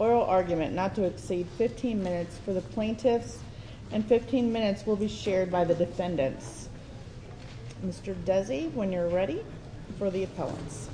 Oral argument not to exceed 15 minutes for the plaintiffs and 15 minutes will be shared by the defendants. Mr. Desi, when you're ready, for the appellants. Good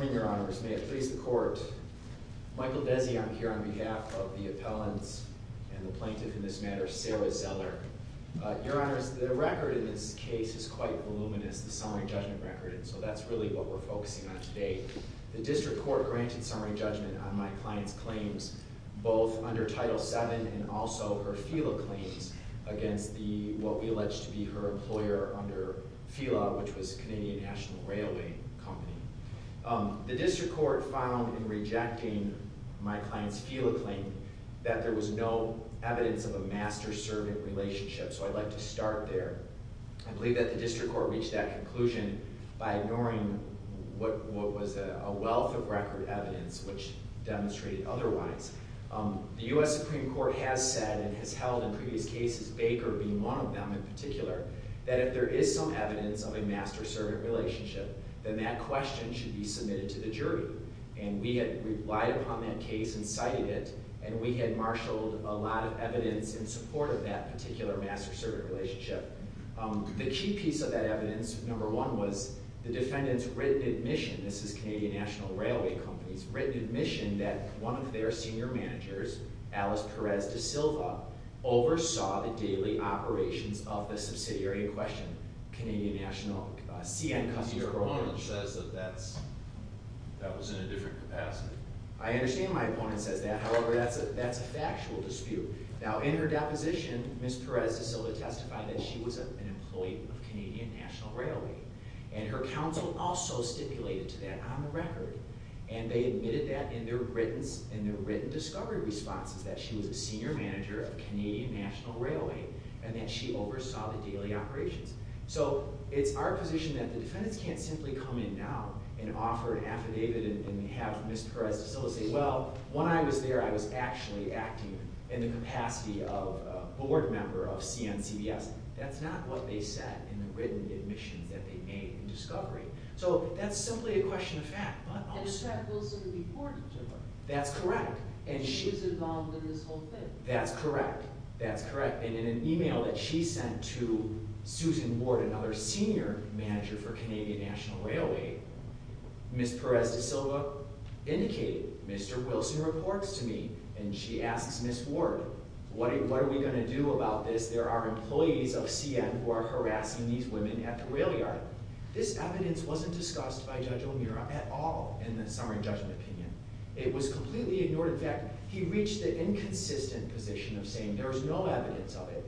morning, Your Honors. Your Honors, may it please the Court. Michael Desi, I'm here on behalf of the appellants and the plaintiff in this matter, Sarah Zeller. Your Honors, the record in this case is quite voluminous, the summary judgment record, and so that's really what we're focusing on today. The District Court granted summary judgment on my client's claims both under Title VII and also her FILA claims against the, what we allege to be her employer under FILA, which was Canadian National Railway Company. The District Court found in rejecting my client's FILA claim that there was no evidence of a master-servant relationship, so I'd like to start there. I believe that the District Court reached that conclusion by ignoring what was a wealth of record evidence which demonstrated otherwise. The U.S. Supreme Court has said and has held in previous cases, Baker being one of them in particular, that if there is some evidence of a master-servant relationship, then that question should be submitted to the jury. And we had relied upon that case and cited it, and we had marshaled a lot of evidence in support of that particular master-servant relationship. The key piece of that evidence, number one, was the defendant's written admission—this is Canadian National Railway Company's written admission—that one of their senior managers, Alice Perez-Da Silva, oversaw the daily operations of the subsidiary in question, Canadian National—CN Customer… My opponent says that that was in a different capacity. I understand my opponent says that, however, that's a factual dispute. Now, in her deposition, Ms. Perez-Da Silva testified that she was an employee of Canadian National Railway, and her counsel also stipulated to that on the record. And they admitted that in their written discovery responses, that she was a senior manager of Canadian National Railway, and that she oversaw the daily operations. So it's our position that the defendants can't simply come in now and offer an affidavit and have Ms. Perez-Da Silva say, well, when I was there, I was actually acting in the capacity of a board member of CNCBS. That's not what they said in the written admissions that they made in discovery. So that's simply a question of fact, but also— And the fact will still be important to her. That's correct. She was involved in this whole thing. That's correct. That's correct. And in an email that she sent to Susan Ward, another senior manager for Canadian National Railway, Ms. Perez-Da Silva indicated, Mr. Wilson reports to me, and she asks Ms. Ward, what are we going to do about this? There are employees of CN who are harassing these women at the rail yard. This evidence wasn't discussed by Judge O'Meara at all in the summary judgment opinion. It was completely ignored. In fact, he reached the inconsistent position of saying there was no evidence of it.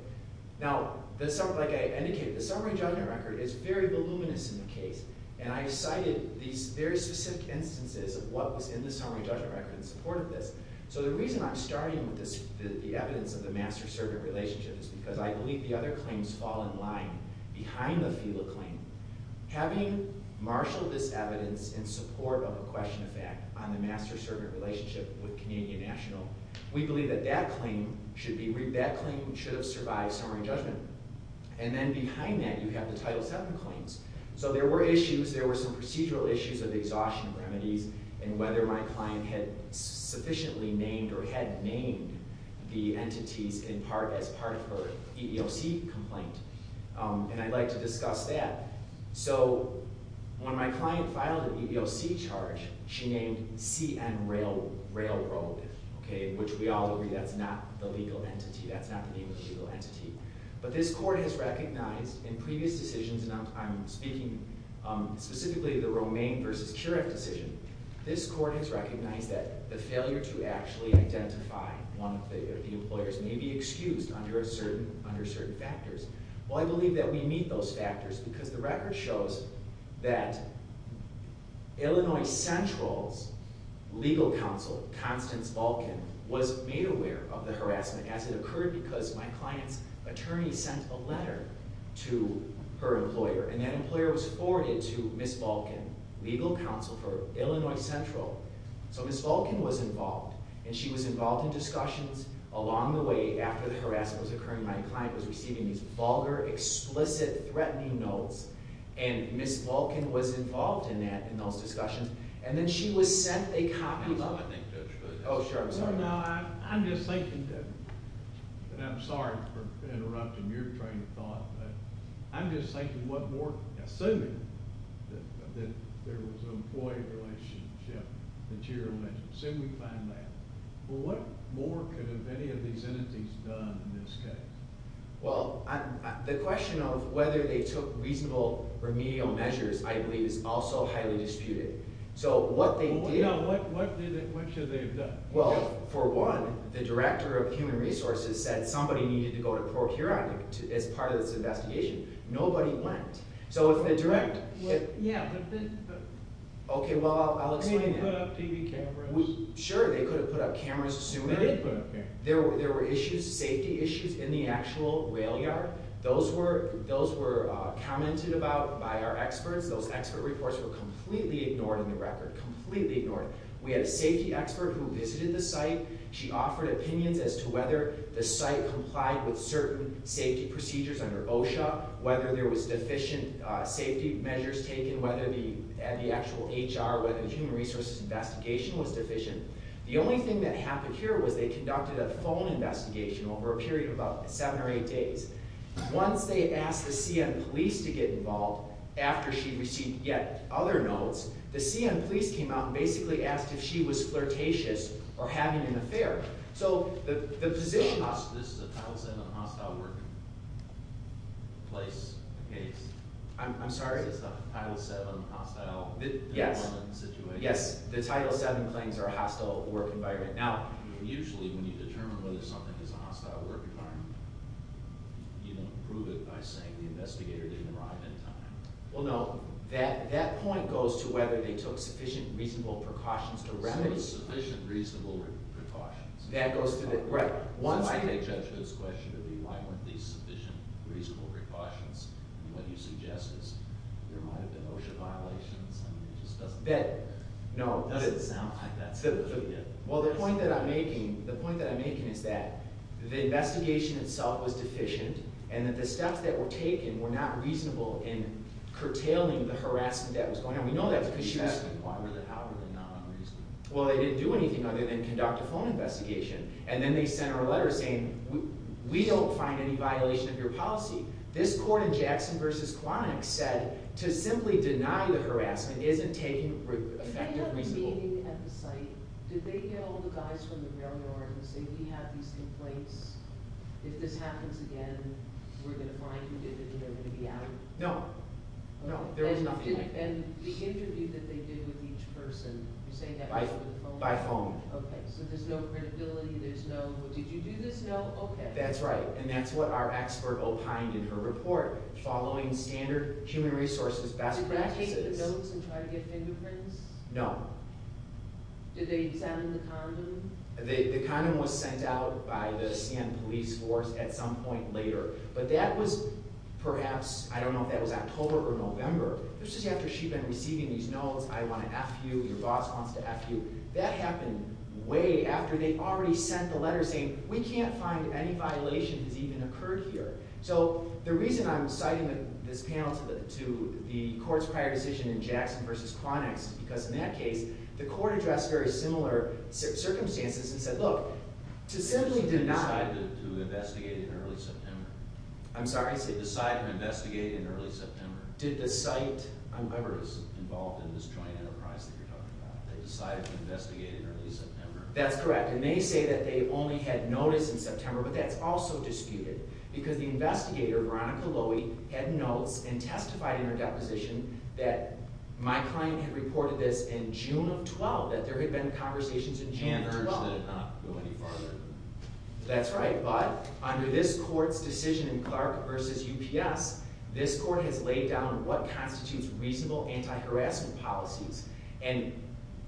Now, like I indicated, the summary judgment record is very voluminous in the case, and I have cited these very specific instances of what was in the summary judgment record in support of this. So the reason I'm starting with the evidence of the master-servant relationship is because I believe the other claims fall in line behind the FELA claim. Having marshaled this evidence in support of a question of fact on the master-servant relationship with Canadian National, we believe that that claim should have survived summary judgment. And then behind that, you have the Title VII claims. So there were issues. There were some procedural issues of exhaustion remedies and whether my client had sufficiently named or had named the entities in part as part of her EEOC complaint. And I'd like to discuss that. So when my client filed an EEOC charge, she named CN Railroad, which we all agree that's not the legal entity. That's not the name of the legal entity. But this court has recognized in previous decisions, and I'm speaking specifically of the Romaine v. Keurig decision, this court has recognized that the failure to actually identify one of the employers may be excused under certain factors. Well, I believe that we meet those factors because the record shows that Illinois Central's legal counsel, Constance Vulcan, was made aware of the harassment as it occurred because my client's attorney sent a letter to her employer. And that employer was forwarded to Ms. Vulcan, legal counsel for Illinois Central. So Ms. Vulcan was involved, and she was involved in discussions along the way after the harassment was occurring. My client was receiving these vulgar, explicit, threatening notes, and Ms. Vulcan was involved in that – in those discussions. And then she was sent a copy of – Oh, sure. I'm sorry. No, no. I'm just thinking that – and I'm sorry for interrupting your train of thought, but I'm just thinking what more – assuming that there was an employee relationship that you're alleging. Assume we find that. Well, what more could have any of these entities done in this case? Well, the question of whether they took reasonable remedial measures I believe is also highly disputed. So what they did – Well, what should they have done? Well, for one, the director of human resources said somebody needed to go to Procurat as part of this investigation. Nobody went. So if the direct – Yeah, but then – Okay, well, I'll explain that. They could have put up TV cameras. Sure, they could have put up cameras sooner. They did put up cameras. There were issues, safety issues in the actual rail yard. Those were commented about by our experts. Those expert reports were completely ignored in the record, completely ignored. We had a safety expert who visited the site. She offered opinions as to whether the site complied with certain safety procedures under OSHA, whether there was deficient safety measures taken, whether the actual HR, whether the human resources investigation was deficient. The only thing that happened here was they conducted a phone investigation over a period of about seven or eight days. Once they asked the CN police to get involved after she received yet other notes, the CN police came out and basically asked if she was flirtatious or having an affair. So the position – This is a Title VII hostile workplace case. I'm sorry? This is a Title VII hostile employment situation. Yes, the Title VII claims are a hostile work environment. Now, usually when you determine whether something is a hostile work environment, you don't prove it by saying the investigator didn't arrive in time. Well, no. That point goes to whether they took sufficient reasonable precautions to remedy – Sufficient reasonable precautions. That goes to the – right. Why can't they judge this question to be why weren't these sufficient reasonable precautions? I mean, what you suggest is there might have been OSHA violations. I mean, it just doesn't – That – no. It doesn't sound like that to me. Well, the point that I'm making – the point that I'm making is that the investigation itself was deficient and that the steps that were taken were not reasonable in curtailing the harassment that was going on. We know that because she was – Why were they – how were they not unreasonable? Well, they didn't do anything other than conduct a phone investigation. And then they sent her a letter saying, we don't find any violation of your policy. This court in Jackson v. Quanick said to simply deny the harassment isn't taking effective reasonable – Did they have a meeting at the site? Did they get all the guys from the railroad and say we have these complaints? If this happens again, we're going to find who did it and they're going to be out. No. No. There was nothing like that. And the interview that they did with each person, you're saying that was over the phone? By phone. Okay. So there's no credibility. There's no, well, did you do this? No? Okay. That's right. And that's what our expert opined in her report. Following standard human resources best practices. Did they take the notes and try to get fingerprints? No. Did they send the condom? The condom was sent out by the San Police force at some point later, but that was perhaps – I don't know if that was October or November. This is after she'd been receiving these notes. I want to F you. Your boss wants to F you. That happened way after they already sent the letter saying we can't find any violation that's even occurred here. So the reason I'm citing this panel to the court's prior decision in Jackson v. Chronix is because in that case, the court addressed very similar circumstances and said, look, to simply deny – Who decided to investigate in early September? I'm sorry? Who decided to investigate in early September? Did the site – Whoever is involved in this joint enterprise that you're talking about. They decided to investigate in early September. That's correct. And they say that they only had notice in September, but that's also disputed because the investigator, Veronica Lowy, had notes and testified in her deposition that my client had reported this in June of 12, that there had been conversations in June of 12. And urged that it not go any farther. That's right, but under this court's decision in Clark v. UPS, this court has laid down what constitutes reasonable anti-harassment policies. And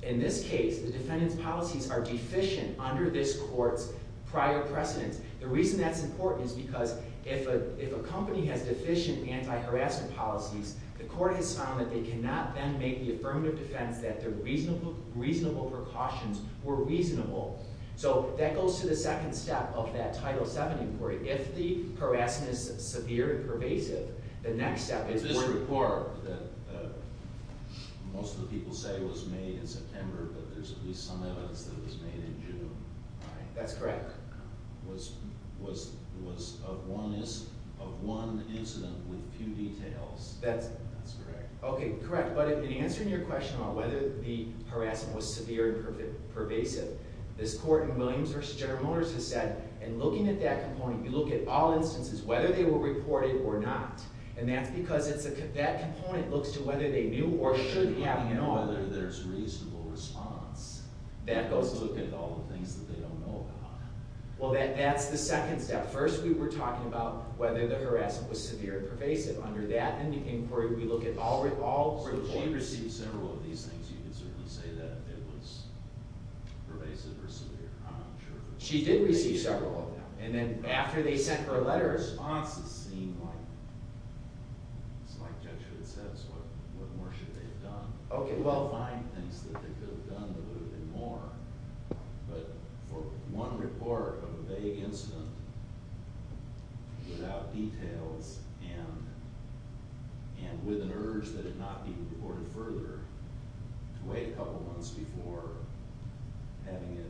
in this case, the defendant's policies are deficient under this court's prior precedence. The reason that's important is because if a company has deficient anti-harassment policies, the court has found that they cannot then make the affirmative defense that their reasonable precautions were reasonable. So that goes to the second step of that Title VII inquiry. If the harassment is severe and pervasive, the next step is – It's this report that most of the people say was made in September, but there's at least some evidence that it was made in June. That's correct. Was of one incident with few details. That's – That's correct. Okay, correct. But in answering your question about whether the harassment was severe and pervasive, this court in Williams v. General Motors has said, in looking at that component, you look at all instances, whether they were reported or not. And that's because that component looks to whether they knew or should have known. Whether there's reasonable response. That goes to – You also look at all the things that they don't know about. Well, that's the second step. First, we were talking about whether the harassment was severe and pervasive. Under that inquiry, we look at all – So she received several of these things. You can certainly say that it was pervasive or severe. I'm not sure. She did receive several of them. And then after they sent her a letter, responses seemed like – It's like Judge Hood says. What more should they have done? If they could find things that they could have done, there would have been more. But for one report of a vague incident without details and with an urge that it not be reported further, to wait a couple months before having it,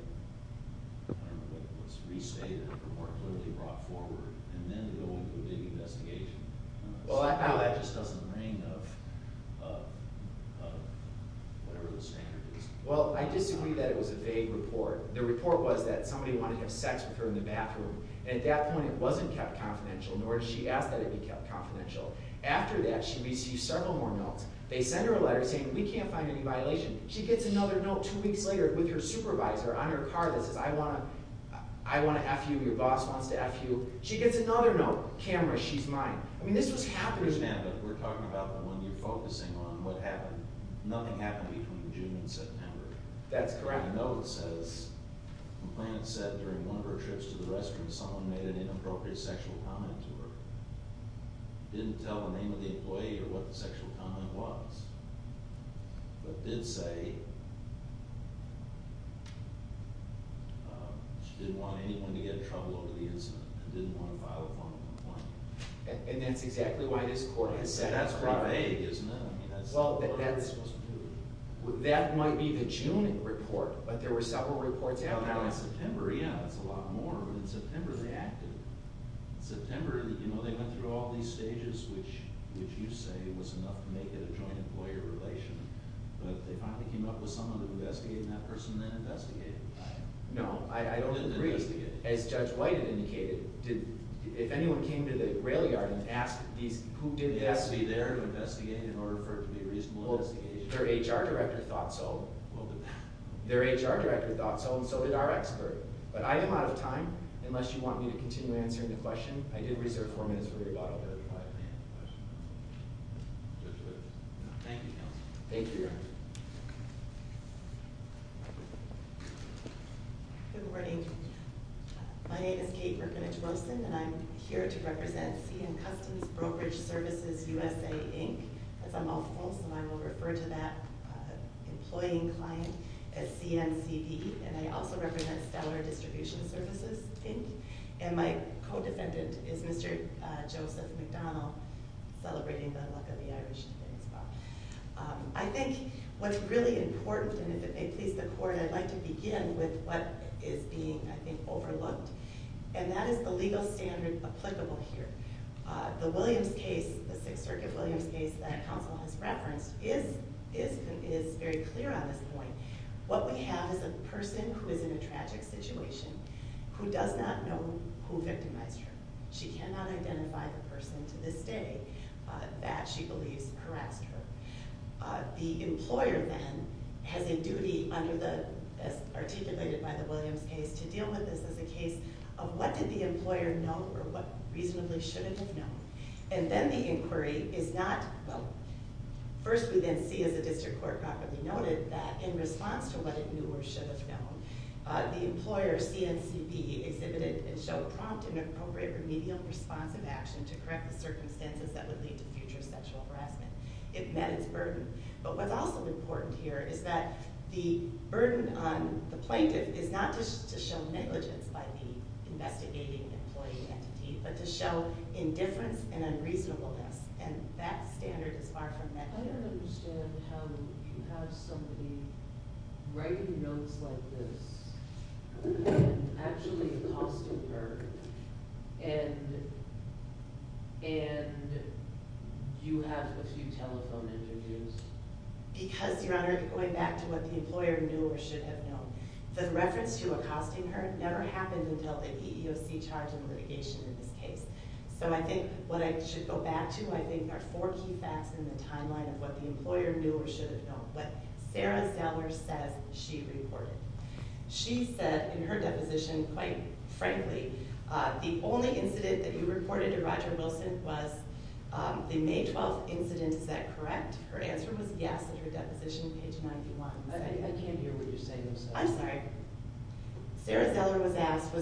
I don't know, what's restated or more clearly brought forward, and then to go into a big investigation. Well, I feel that just doesn't ring of whatever the standard is. Well, I disagree that it was a vague report. The report was that somebody wanted to have sex with her in the bathroom. At that point, it wasn't kept confidential, nor did she ask that it be kept confidential. After that, she received several more notes. They sent her a letter saying, we can't find any violation. She gets another note two weeks later with her supervisor on her car that says, I want to F you, your boss wants to F you. She gets another note, camera, she's mine. I mean, this was happening. I understand, but we're talking about when you're focusing on what happened, nothing happened between June and September. That's correct. The note says, the complainant said during one of her trips to the restroom, someone made an inappropriate sexual comment to her. Didn't tell the name of the employee or what the sexual comment was, but did say she didn't want anyone to get in trouble over the incident and didn't want to file a formal complaint. And that's exactly why this court has sent her out. That's quite vague, isn't it? Well, that might be the June report, but there were several reports out now. September, yeah, that's a lot more. In September, they acted. In September, you know, they went through all these stages, which you say was enough to make it a joint employer relation, but they finally came up with someone to investigate, and that person then investigated. No, I don't agree. As Judge White had indicated, if anyone came to the rail yard and asked who did this, they'd have to be there to investigate in order for it to be a reasonable investigation. Their HR director thought so. Their HR director thought so, and so did our expert. But I am out of time. Unless you want me to continue answering the question, I did reserve four minutes for your bottle, Judge White. Thank you, counsel. Thank you. Good morning. Good morning. My name is Kate Rukinich-Rosen, and I'm here to represent CN Customs Brokerage Services USA, Inc. That's a mouthful, so I will refer to that employing client as CNCB. And I also represent Stellar Distribution Services, Inc., and my co-defendant is Mr. Joseph McDonald, celebrating the luck of the Irish today as well. I think what's really important, and if it pleases the Court, I'd like to begin with what is being, I think, overlooked, and that is the legal standard applicable here. The Williams case, the Sixth Circuit Williams case that counsel has referenced, is very clear on this point. What we have is a person who is in a tragic situation who does not know who victimized her. She cannot identify the person to this day that she believes harassed her. The employer then has a duty under the, as articulated by the Williams case, to deal with this as a case of what did the employer know or what reasonably should it have known. And then the inquiry is not, well, first we then see, as the district court properly noted, that in response to what it knew or should have known, the employer, CNCB, exhibited and showed prompt and appropriate remedial responsive action to correct the circumstances that would lead to future sexual harassment. It met its burden. But what's also important here is that the burden on the plaintiff is not just to show negligence by the investigating employee entity, but to show indifference and unreasonableness, and that standard is far from met. I don't understand how you have somebody writing notes like this and actually accosting her, and you have a few telephone interviews. Because, Your Honor, going back to what the employer knew or should have known, the reference to accosting her never happened until the EEOC charge of litigation in this case. So I think what I should go back to, I think, are four key facts in the timeline of what the employer knew or should have known. What Sarah Zeller says, she reported. She said in her deposition, quite frankly, the only incident that you reported to Roger Wilson was the May 12th incident. Is that correct? Her answer was yes at her deposition, page 91. I can't hear what you're saying. I'm sorry. Sarah Zeller was asked,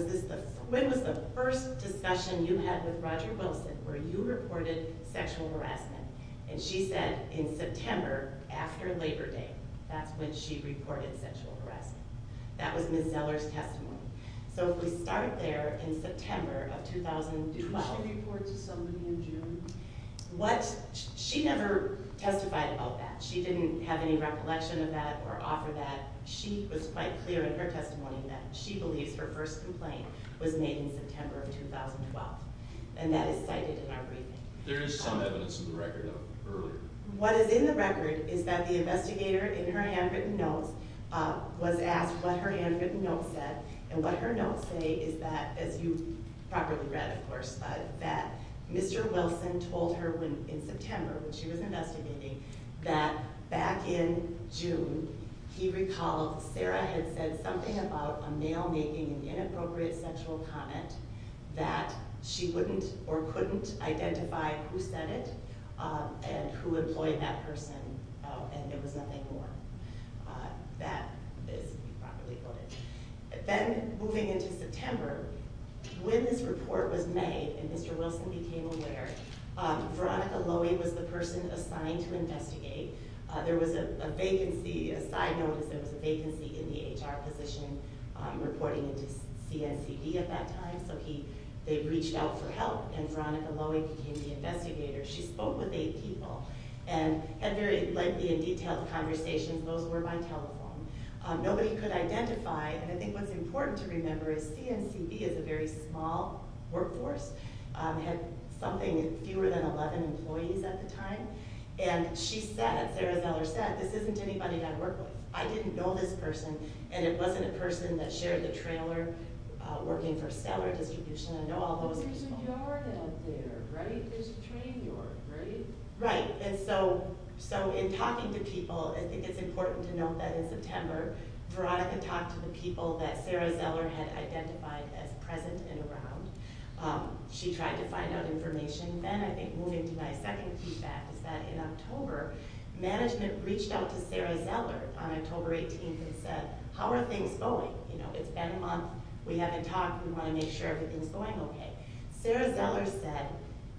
when was the first discussion you had with Roger Wilson where you reported sexual harassment? And she said in September after Labor Day. That's when she reported sexual harassment. That was Ms. Zeller's testimony. So if we start there in September of 2012. Did she report to somebody in June? What? She never testified about that. She didn't have any recollection of that or offer that. She was quite clear in her testimony that she believes her first complaint was made in September of 2012. And that is cited in our briefing. There is some evidence in the record of earlier. What is in the record is that the investigator in her handwritten notes was asked what her handwritten notes said, and what her notes say is that, as you properly read, of course, that Mr. Wilson told her in September when she was investigating that back in June he recalled Sarah had said something about a male making an inappropriate sexual comment that she wouldn't or couldn't identify who said it and who employed that person, and there was nothing more. That is properly quoted. Then moving into September, when this report was made and Mr. Wilson became aware, Veronica Lowy was the person assigned to investigate. There was a vacancy, a side notice, there was a vacancy in the HR position reporting into CNCD at that time, so they reached out for help, and Veronica Lowy became the investigator. She spoke with eight people and had very lengthy and detailed conversations. Those were by telephone. Nobody could identify, and I think what's important to remember is CNCD is a very small workforce, had something fewer than 11 employees at the time, and she said, Sarah Zeller said, this isn't anybody I work with. I didn't know this person, and it wasn't a person that shared the trailer working for seller distribution. I know all those people. There's a yard out there, right? There's a train yard, right? Right, and so in talking to people, I think it's important to note that in September, Veronica talked to the people that Sarah Zeller had identified as present and around. She tried to find out information. Then I think moving to my second feedback is that in October, management reached out to Sarah Zeller on October 18th and said, how are things going? It's been a month. We haven't talked. We want to make sure everything's going okay. Sarah Zeller said,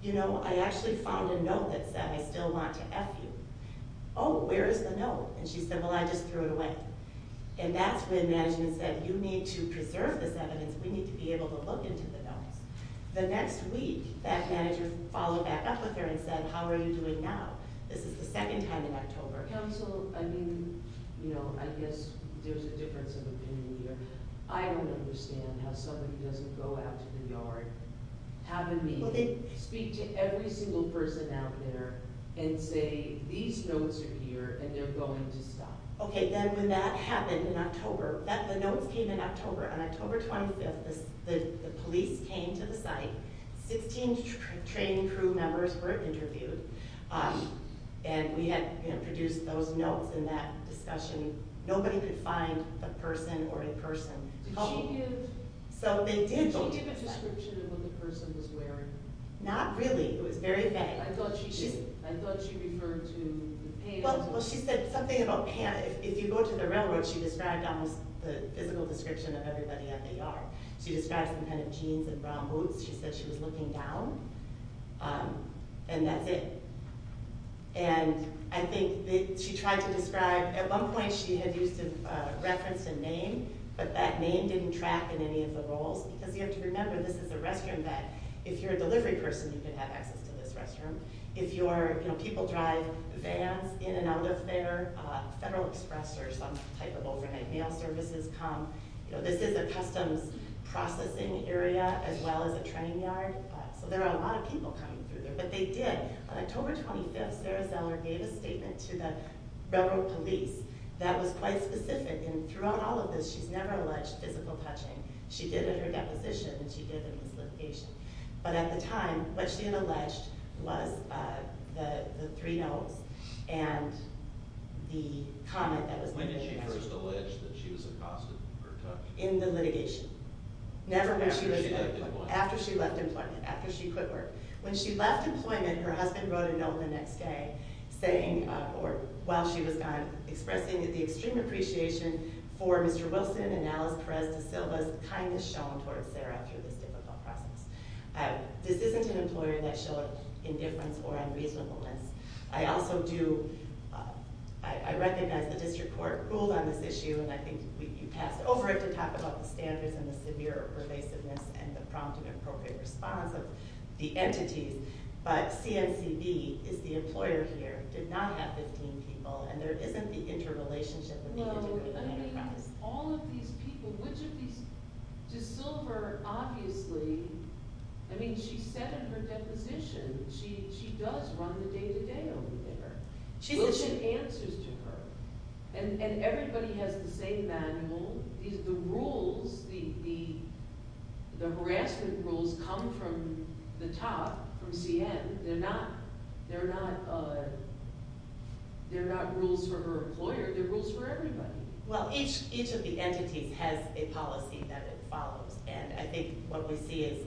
you know, I actually found a note that said, I still want to F you. Oh, where is the note? And she said, well, I just threw it away. And that's when management said, you need to preserve this evidence. We need to be able to look into the notes. The next week, that manager followed back up with her and said, how are you doing now? This is the second time in October. Counsel, I mean, you know, I guess there's a difference of opinion here. I don't understand how somebody doesn't go out to the yard, have a meeting, speak to every single person out there, and say, these notes are here, and they're going to stop. Okay, then when that happened in October, the notes came in October. On October 25th, the police came to the site. Sixteen trained crew members were interviewed, and we had produced those notes in that discussion. Nobody could find a person or a person. Did she give a description of what the person was wearing? Not really. It was very vague. I thought she did. I thought she referred to the pants. Well, she said something about pants. If you go to the railroad, she described almost the physical description of everybody at the yard. She described some kind of jeans and brown boots. She said she was looking down, and that's it. I think she tried to describe at one point she had used a reference and name, but that name didn't track in any of the roles, because you have to remember this is a restroom that if you're a delivery person, you can have access to this restroom. If you're, you know, people drive vans in and out of there, Federal Express or some type of overhead mail services come. You know, this is a customs processing area as well as a train yard. So there are a lot of people coming through there, but they did. On October 25th, Sarah Zeller gave a statement to the railroad police that was quite specific, and throughout all of this, she's never alleged physical touching. She did at her deposition, and she did in this litigation. But at the time, what she had alleged was the three no's and the comment that was made. When did she first allege that she was accosted or touched? In the litigation. After she left employment. After she left employment, after she quit work. When she left employment, her husband wrote a note the next day saying, or while she was gone, expressing the extreme appreciation for Mr. Wilson and Alice Perez De Silva's kindness shown towards Sarah through this difficult process. This isn't an employer that showed indifference or unreasonableness. I also do, I recognize the district court ruled on this issue, and I think you passed it over it to talk about the standards and the severe pervasiveness and the prompt and appropriate response of the entities, but CNCB is the employer here, did not have 15 people, and there isn't the interrelationship that we can talk about. Well, I mean, all of these people, which of these, De Silva, obviously, I mean, she said in her deposition, she does run the day-to-day over there. She's issued answers to her, and everybody has the same manual. The rules, the harassment rules come from the top, from CN. They're not rules for her employer. They're rules for everybody. Well, each of the entities has a policy that it follows, and I think what we see is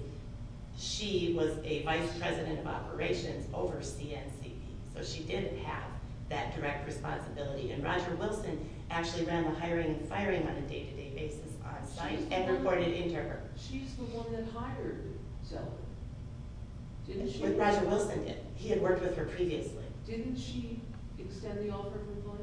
she was a vice president of operations over CNCB, so she did have that direct responsibility, and Roger Wilson actually ran the hiring and firing on a day-to-day basis on site and reported in to her. She's the one that hired Zeller, didn't she? Roger Wilson did. He had worked with her previously. Didn't she extend the offer for employment?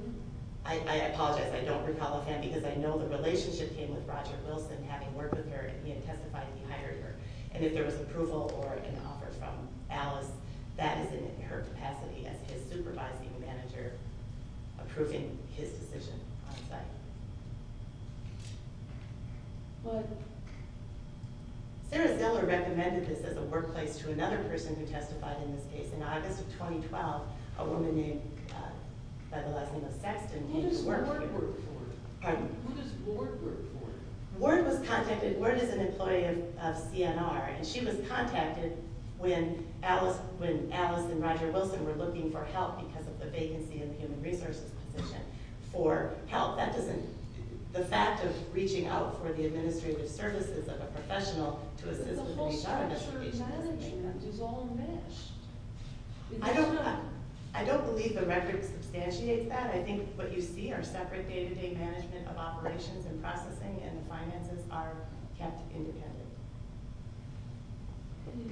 I apologize. I don't recall offhand, because I know the relationship came with Roger Wilson having worked with her, and he had testified he hired her, and if there was approval or an offer from Alice, that is in her capacity as his supervising manager approving his decision on site. Sarah Zeller recommended this as a workplace to another person who testified in this case. In August of 2012, a woman by the last name of Sexton... Who does Ward work for? Pardon? Who does Ward work for? Ward was contacted. Ward is an employee of CNR, and she was contacted when Alice and Roger Wilson were looking for help because of the vacancy in the human resources position for help. The fact of reaching out for the administrative services of a professional to assist... The whole statutory management is all meshed. I don't believe the record substantiates that. I think what you see are separate day-to-day management of operations and processing, and the finances are kept independent. Thank you.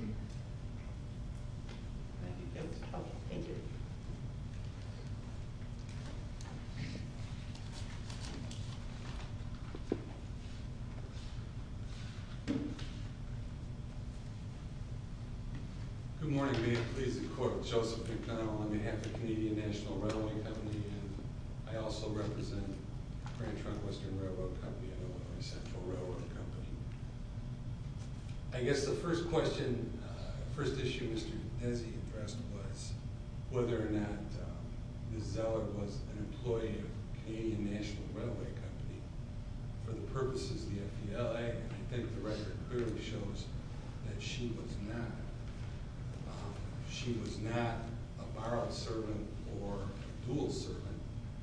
Good morning. May it please the Court. Joseph McDonnell on behalf of Canadian National Railway Company, and I also represent Grand Trunk Western Railroad Company, an owner of Central Railroad Company. I guess the first question, the first issue Mr. Desi addressed was whether or not Ms. Zeller was an employee of Canadian National Railway Company for the purposes of the FDL. I think the record clearly shows that she was not. She was not a borrowed servant or dual servant.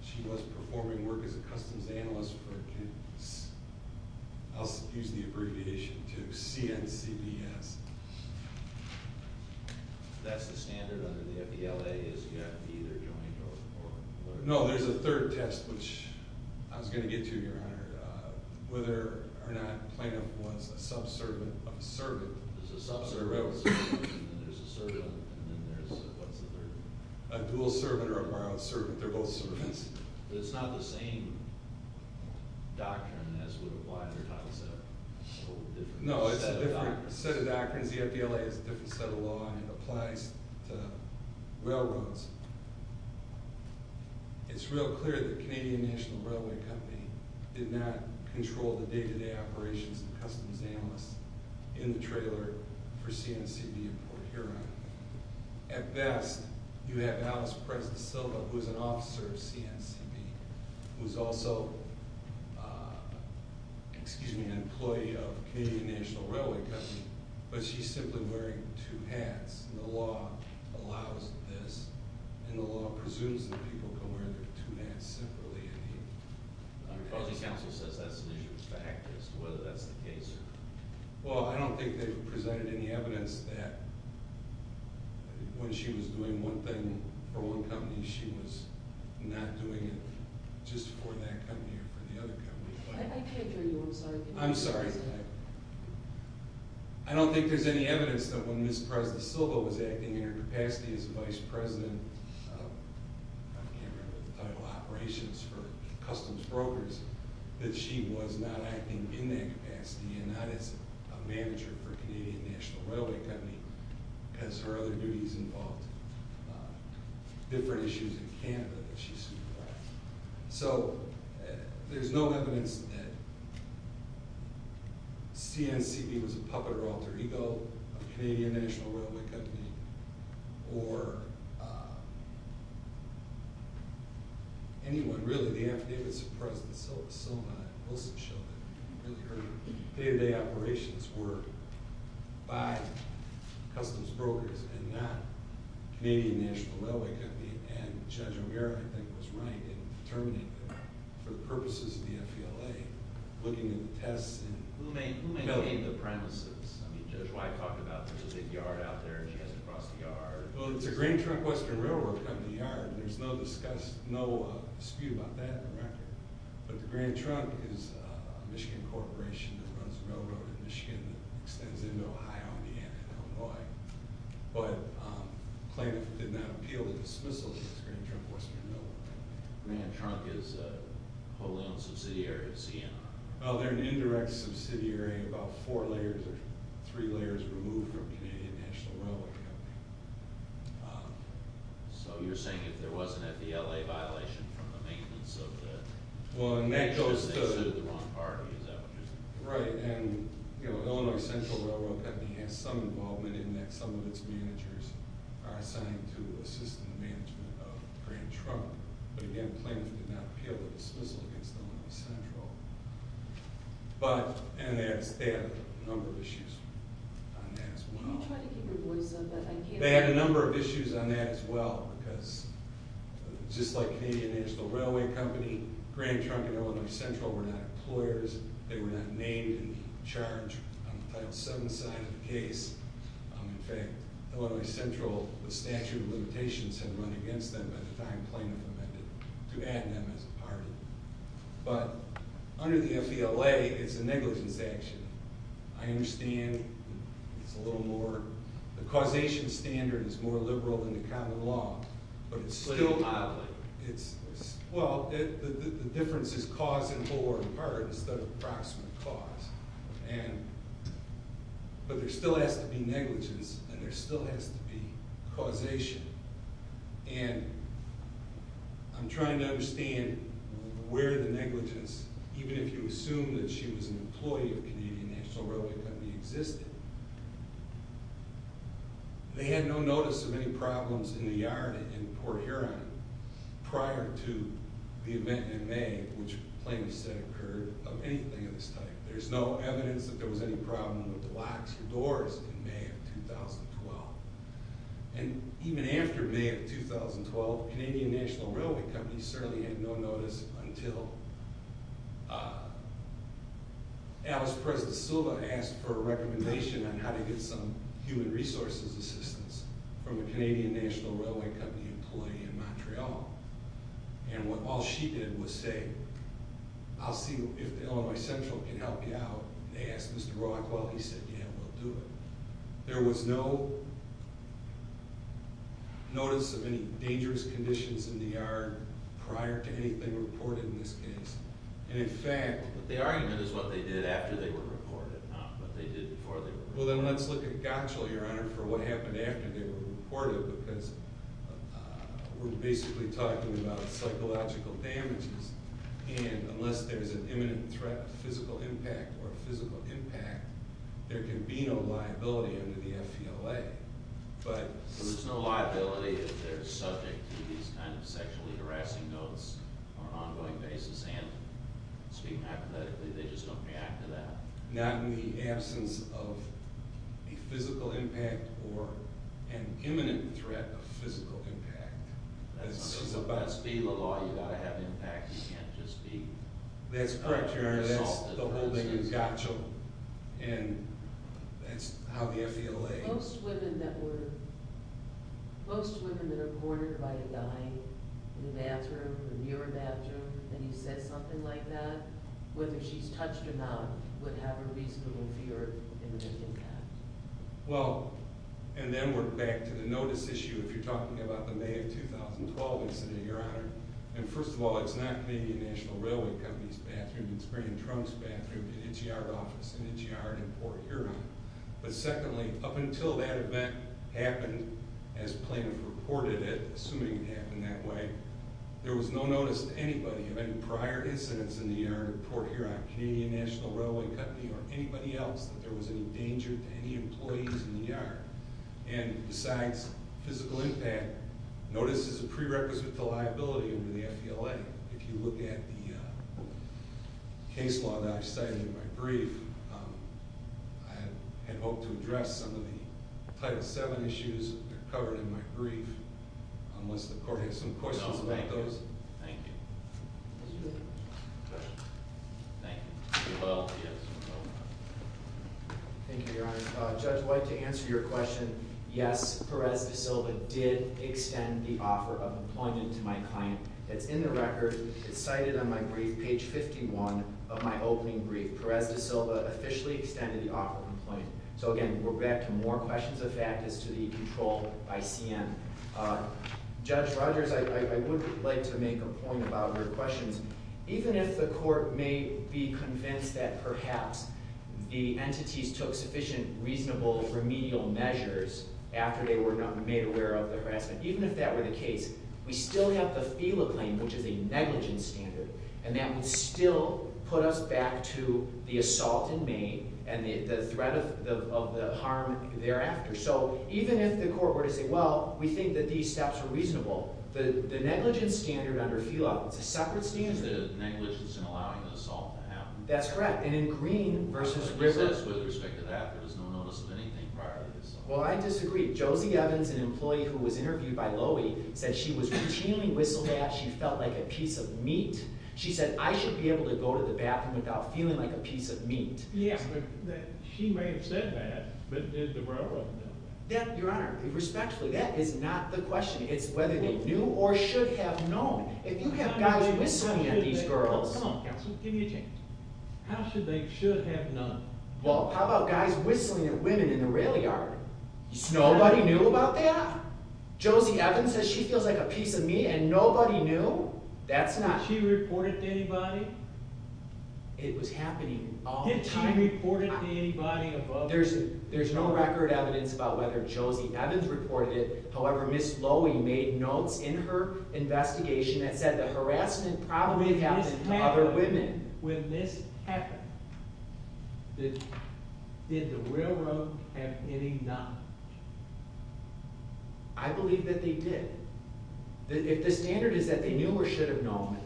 She was performing work as a customs analyst for... I'll use the abbreviation to CNCBS. That's the standard under the FDLA is you have to be either joined or... No, there's a third test, which I was going to get to, Your Honor. Whether or not Plano was a subservient of a servant. There's a subservient of a servant, and then there's a servant, and then there's, what's the third one? A dual servant or a borrowed servant. They're both servants. It's not the same doctrine as would apply under Title VII. No, it's a different set of doctrines. The FDLA has a different set of law, and it applies to railroads. It's real clear that Canadian National Railway Company did not control the day-to-day operations of the customs analyst in the trailer for CNCB in Port Huron. At best, you have Alice Preston Silva, who is an officer of CNCB, who is also an employee of Canadian National Railway Company, but she's simply wearing two hats, and the law allows this, and the law presumes that people can wear their two hats simply. The Policy Council says that's an issue of fact as to whether that's the case. Well, I don't think they've presented any evidence that when she was doing one thing for one company, she was not doing it just for that company or for the other company. I can't hear you. I'm sorry. I'm sorry. I don't think there's any evidence that when Ms. Preston Silva was acting in her capacity as vice president, I can't remember the title, operations for customs brokers, that she was not acting in that capacity and not as a manager for Canadian National Railway Company because her other duties involved different issues in Canada that she was supervising. So there's no evidence that CNCB was a puppet or alter ego of Canadian National Railway Company or anyone really. The affidavits of President Silva and Wilson show that really her day-to-day operations were by customs brokers and not Canadian National Railway Company, and Judge O'Meara, I think, was right in determining that for the purposes of the FVLA, looking at the tests and... Who maintained the premises? I mean, Judge White talked about there's a big yard out there and she has to cross the yard. Well, it's a Grand Trunk Western Railroad Company yard, and there's no dispute about that in the record. But the Grand Trunk is a Michigan corporation that runs a railroad in Michigan that extends into Ohio and the end into Illinois. But the plaintiff did not appeal the dismissal of this Grand Trunk Western Railroad Company. Grand Trunk is a wholly owned subsidiary of CNR. Well, they're an indirect subsidiary, about four layers or three layers removed from Canadian National Railway Company. So you're saying if there wasn't a FVLA violation from the maintenance of the... Well, and that goes to... ...the wrong party, is that what you're saying? Right, and Illinois Central Railroad Company has some involvement in that. Some of its managers are assigned to assist in the management of Grand Trunk. But again, the plaintiff did not appeal the dismissal against Illinois Central. But...and they had a number of issues on that as well. Can you try to keep your voice up? They had a number of issues on that as well, because just like Canadian National Railway Company, Grand Trunk and Illinois Central were not employers. They were not named in the charge on the Title VII side of the case. In fact, Illinois Central, the statute of limitations had run against them by the time plaintiff amended to add them as a party. But under the FVLA, it's a negligence action. I understand it's a little more... The causation standard is more liberal than the common law. But it's still... Well, the difference is cause and whore in part instead of approximate cause. And...but there still has to be negligence, and there still has to be causation. And I'm trying to understand where the negligence, even if you assume that she was an employee of Canadian National Railway Company, existed. They had no notice of any problems in the yard in Port Huron prior to the event in May, which the plaintiff said occurred, of anything of this type. There's no evidence that there was any problem with the locks or doors in May of 2012. And even after May of 2012, Canadian National Railway Company certainly had no notice until... Alice Preston-Silva asked for a recommendation on how to get some human resources assistance from a Canadian National Railway Company employee in Montreal. And all she did was say, I'll see if Illinois Central can help you out. They asked Mr. Brockwell. He said, yeah, we'll do it. There was no... notice of any dangerous conditions in the yard prior to anything reported in this case. And in fact... But the argument is what they did after they were reported, not what they did before they were reported. Well, then let's look at Gottschall, Your Honor, for what happened after they were reported, because we're basically talking about psychological damages. And unless there's an imminent threat, a physical impact or a physical impact, there can be no liability under the F.E.L.A. But... There's no liability if they're subject to these kind of sexually harassing notes on an ongoing basis and speaking apathetically. They just don't react to that. Not in the absence of a physical impact or an imminent threat of physical impact. That must be the law. You've got to have impact. You can't just be... That's correct, Your Honor. That's the whole thing in Gottschall. And that's how the F.E.L.A. Most women that were... Most women that are reported by a guy in a bathroom, a mirror bathroom, and he says something like that, whether she's touched or not, would have a reasonable fear of imminent impact. Well, and then we're back to the notice issue if you're talking about the May of 2012 incident, Your Honor. And first of all, it's not Canadian National Railway Company's bathroom. It's Brian Trump's bathroom at its yard office in its yard in Port Huron. But secondly, up until that event happened, as plaintiffs reported it, assuming it happened that way, there was no notice to anybody of any prior incidents in the yard in Port Huron, Canadian National Railway Company, or anybody else that there was any danger to any employees in the yard. And besides physical impact, notice is a prerequisite to liability under the F.E.L.A. If you look at the case law that I've cited in my brief, I had hoped to address some of the Title VII issues that are covered in my brief, unless the court has some questions about those. No, thank you. Thank you. Thank you. Thank you, Your Honor. Judge White, to answer your question, yes, Perez de Silva did extend the offer of employment to my client. It's in the record. It's cited on my brief, page 51 of my opening brief. Perez de Silva officially extended the offer of employment. So again, we're back to more questions of factors to the control by CN. Judge Rogers, I would like to make a point about your questions. Even if the court may be convinced that perhaps the entities took sufficient, reasonable, remedial measures after they were made aware of the harassment, even if that were the case, we still have the F.E.L.A. claim, which is a negligence standard, and that would still put us back to the assault in May and the threat of the harm thereafter. So even if the court were to say, well, we think that these steps are reasonable, the negligence standard under F.E.L.A. is a separate standard. It's the negligence in allowing the assault to happen. That's correct, and in Green v. Rivers... The process with respect to that, there was no notice of anything prior to the assault. Well, I disagree. Josie Evans, an employee who was interviewed by Lowy, said she was routinely whistled at. She felt like a piece of meat. She said, I should be able to go to the bathroom without feeling like a piece of meat. Yeah, she may have said that, but did the railroad know? Your Honor, respectfully, that is not the question. It's whether they knew or should have known. If you have guys whistling at these girls... Come on, counsel, give me a chance. How should they should have known? Well, how about guys whistling at women in the rail yard? Nobody knew about that? Josie Evans says she feels like a piece of meat, and nobody knew? That's not... Did she report it to anybody? It was happening all the time. Did she report it to anybody? There's no record evidence about whether Josie Evans reported it. However, Ms. Lowy made notes in her investigation that said the harassment probably happened to other women. When this happened, did the railroad have any knowledge? I believe that they did. If the standard is that they knew or should have known,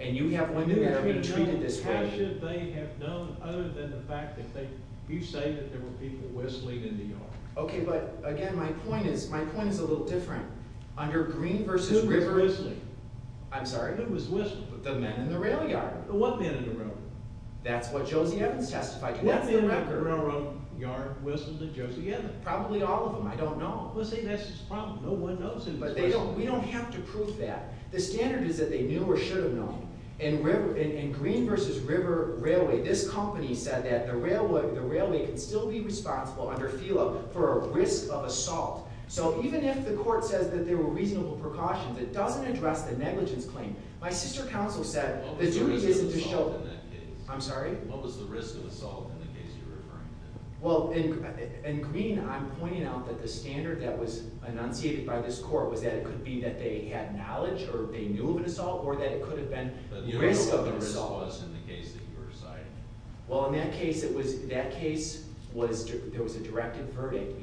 and you have women that are being treated this way... How should they have known other than the fact that you say that there were people whistling in the yard? Okay, but again, my point is a little different. Under Green v. River... Who was whistling? I'm sorry? Who was whistling? The men in the rail yard. What men in the railroad? That's what Josie Evans testified to. That's the record. Who was whistling to Josie Evans? Probably all of them. I don't know. Well, see, that's his problem. No one knows. But we don't have to prove that. The standard is that they knew or should have known. In Green v. River Railway, this company said that the railway can still be responsible under FELA for a risk of assault. So even if the court says that there were reasonable precautions, it doesn't address the negligence claim. My sister counsel said the duty isn't to show... What was the risk of assault in that case? I'm sorry? What was the risk of assault in the case you're referring to? Well, in Green, I'm pointing out that the standard that was enunciated by this court was that it could be that they had knowledge or they knew of an assault, or that it could have been the risk of an assault. Do you know what the risk was in the case that you were citing? Well, in that case, there was a directive verdict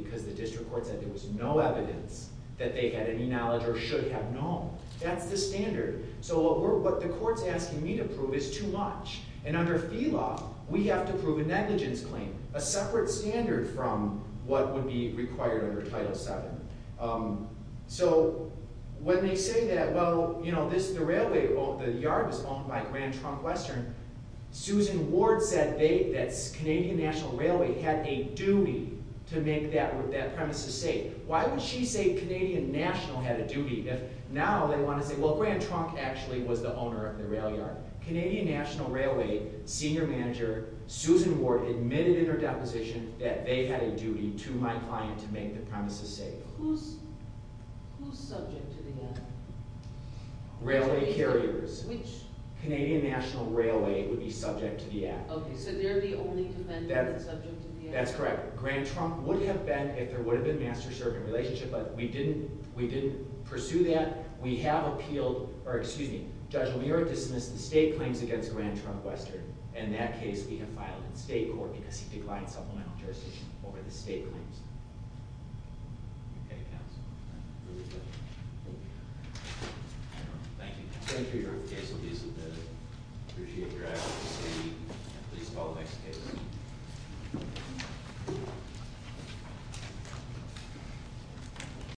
that they had any knowledge or should have known. That's the standard. So what the court's asking me to prove is too much. And under FELA, we have to prove a negligence claim, a separate standard from what would be required under Title VII. So when they say that, well, you know, the yard was owned by Grand Trunk Western, Susan Ward said that Canadian National Railway had a duty to make that premise of state. Why would she say Canadian National had a duty if now they want to say, well, Grand Trunk actually was the owner of the rail yard? Canadian National Railway senior manager, Susan Ward admitted in her deposition that they had a duty to my client to make the premises safe. Who's subject to the act? Railway carriers. Which? Canadian National Railway would be subject to the act. Okay, so they're the only defendant that's subject to the act. That's correct. Grand Trunk would have been if there would have been master-servant relationship, but we didn't pursue that. We have appealed, or excuse me, Judge O'Meara dismissed the state claims against Grand Trunk Western, and that case we have filed in state court because he declined supplemental jurisdiction over the state claims. Okay, counsel. Thank you. Thank you, Your Honor. The case will be submitted. I appreciate your advocacy. Please call the next case. Thank you.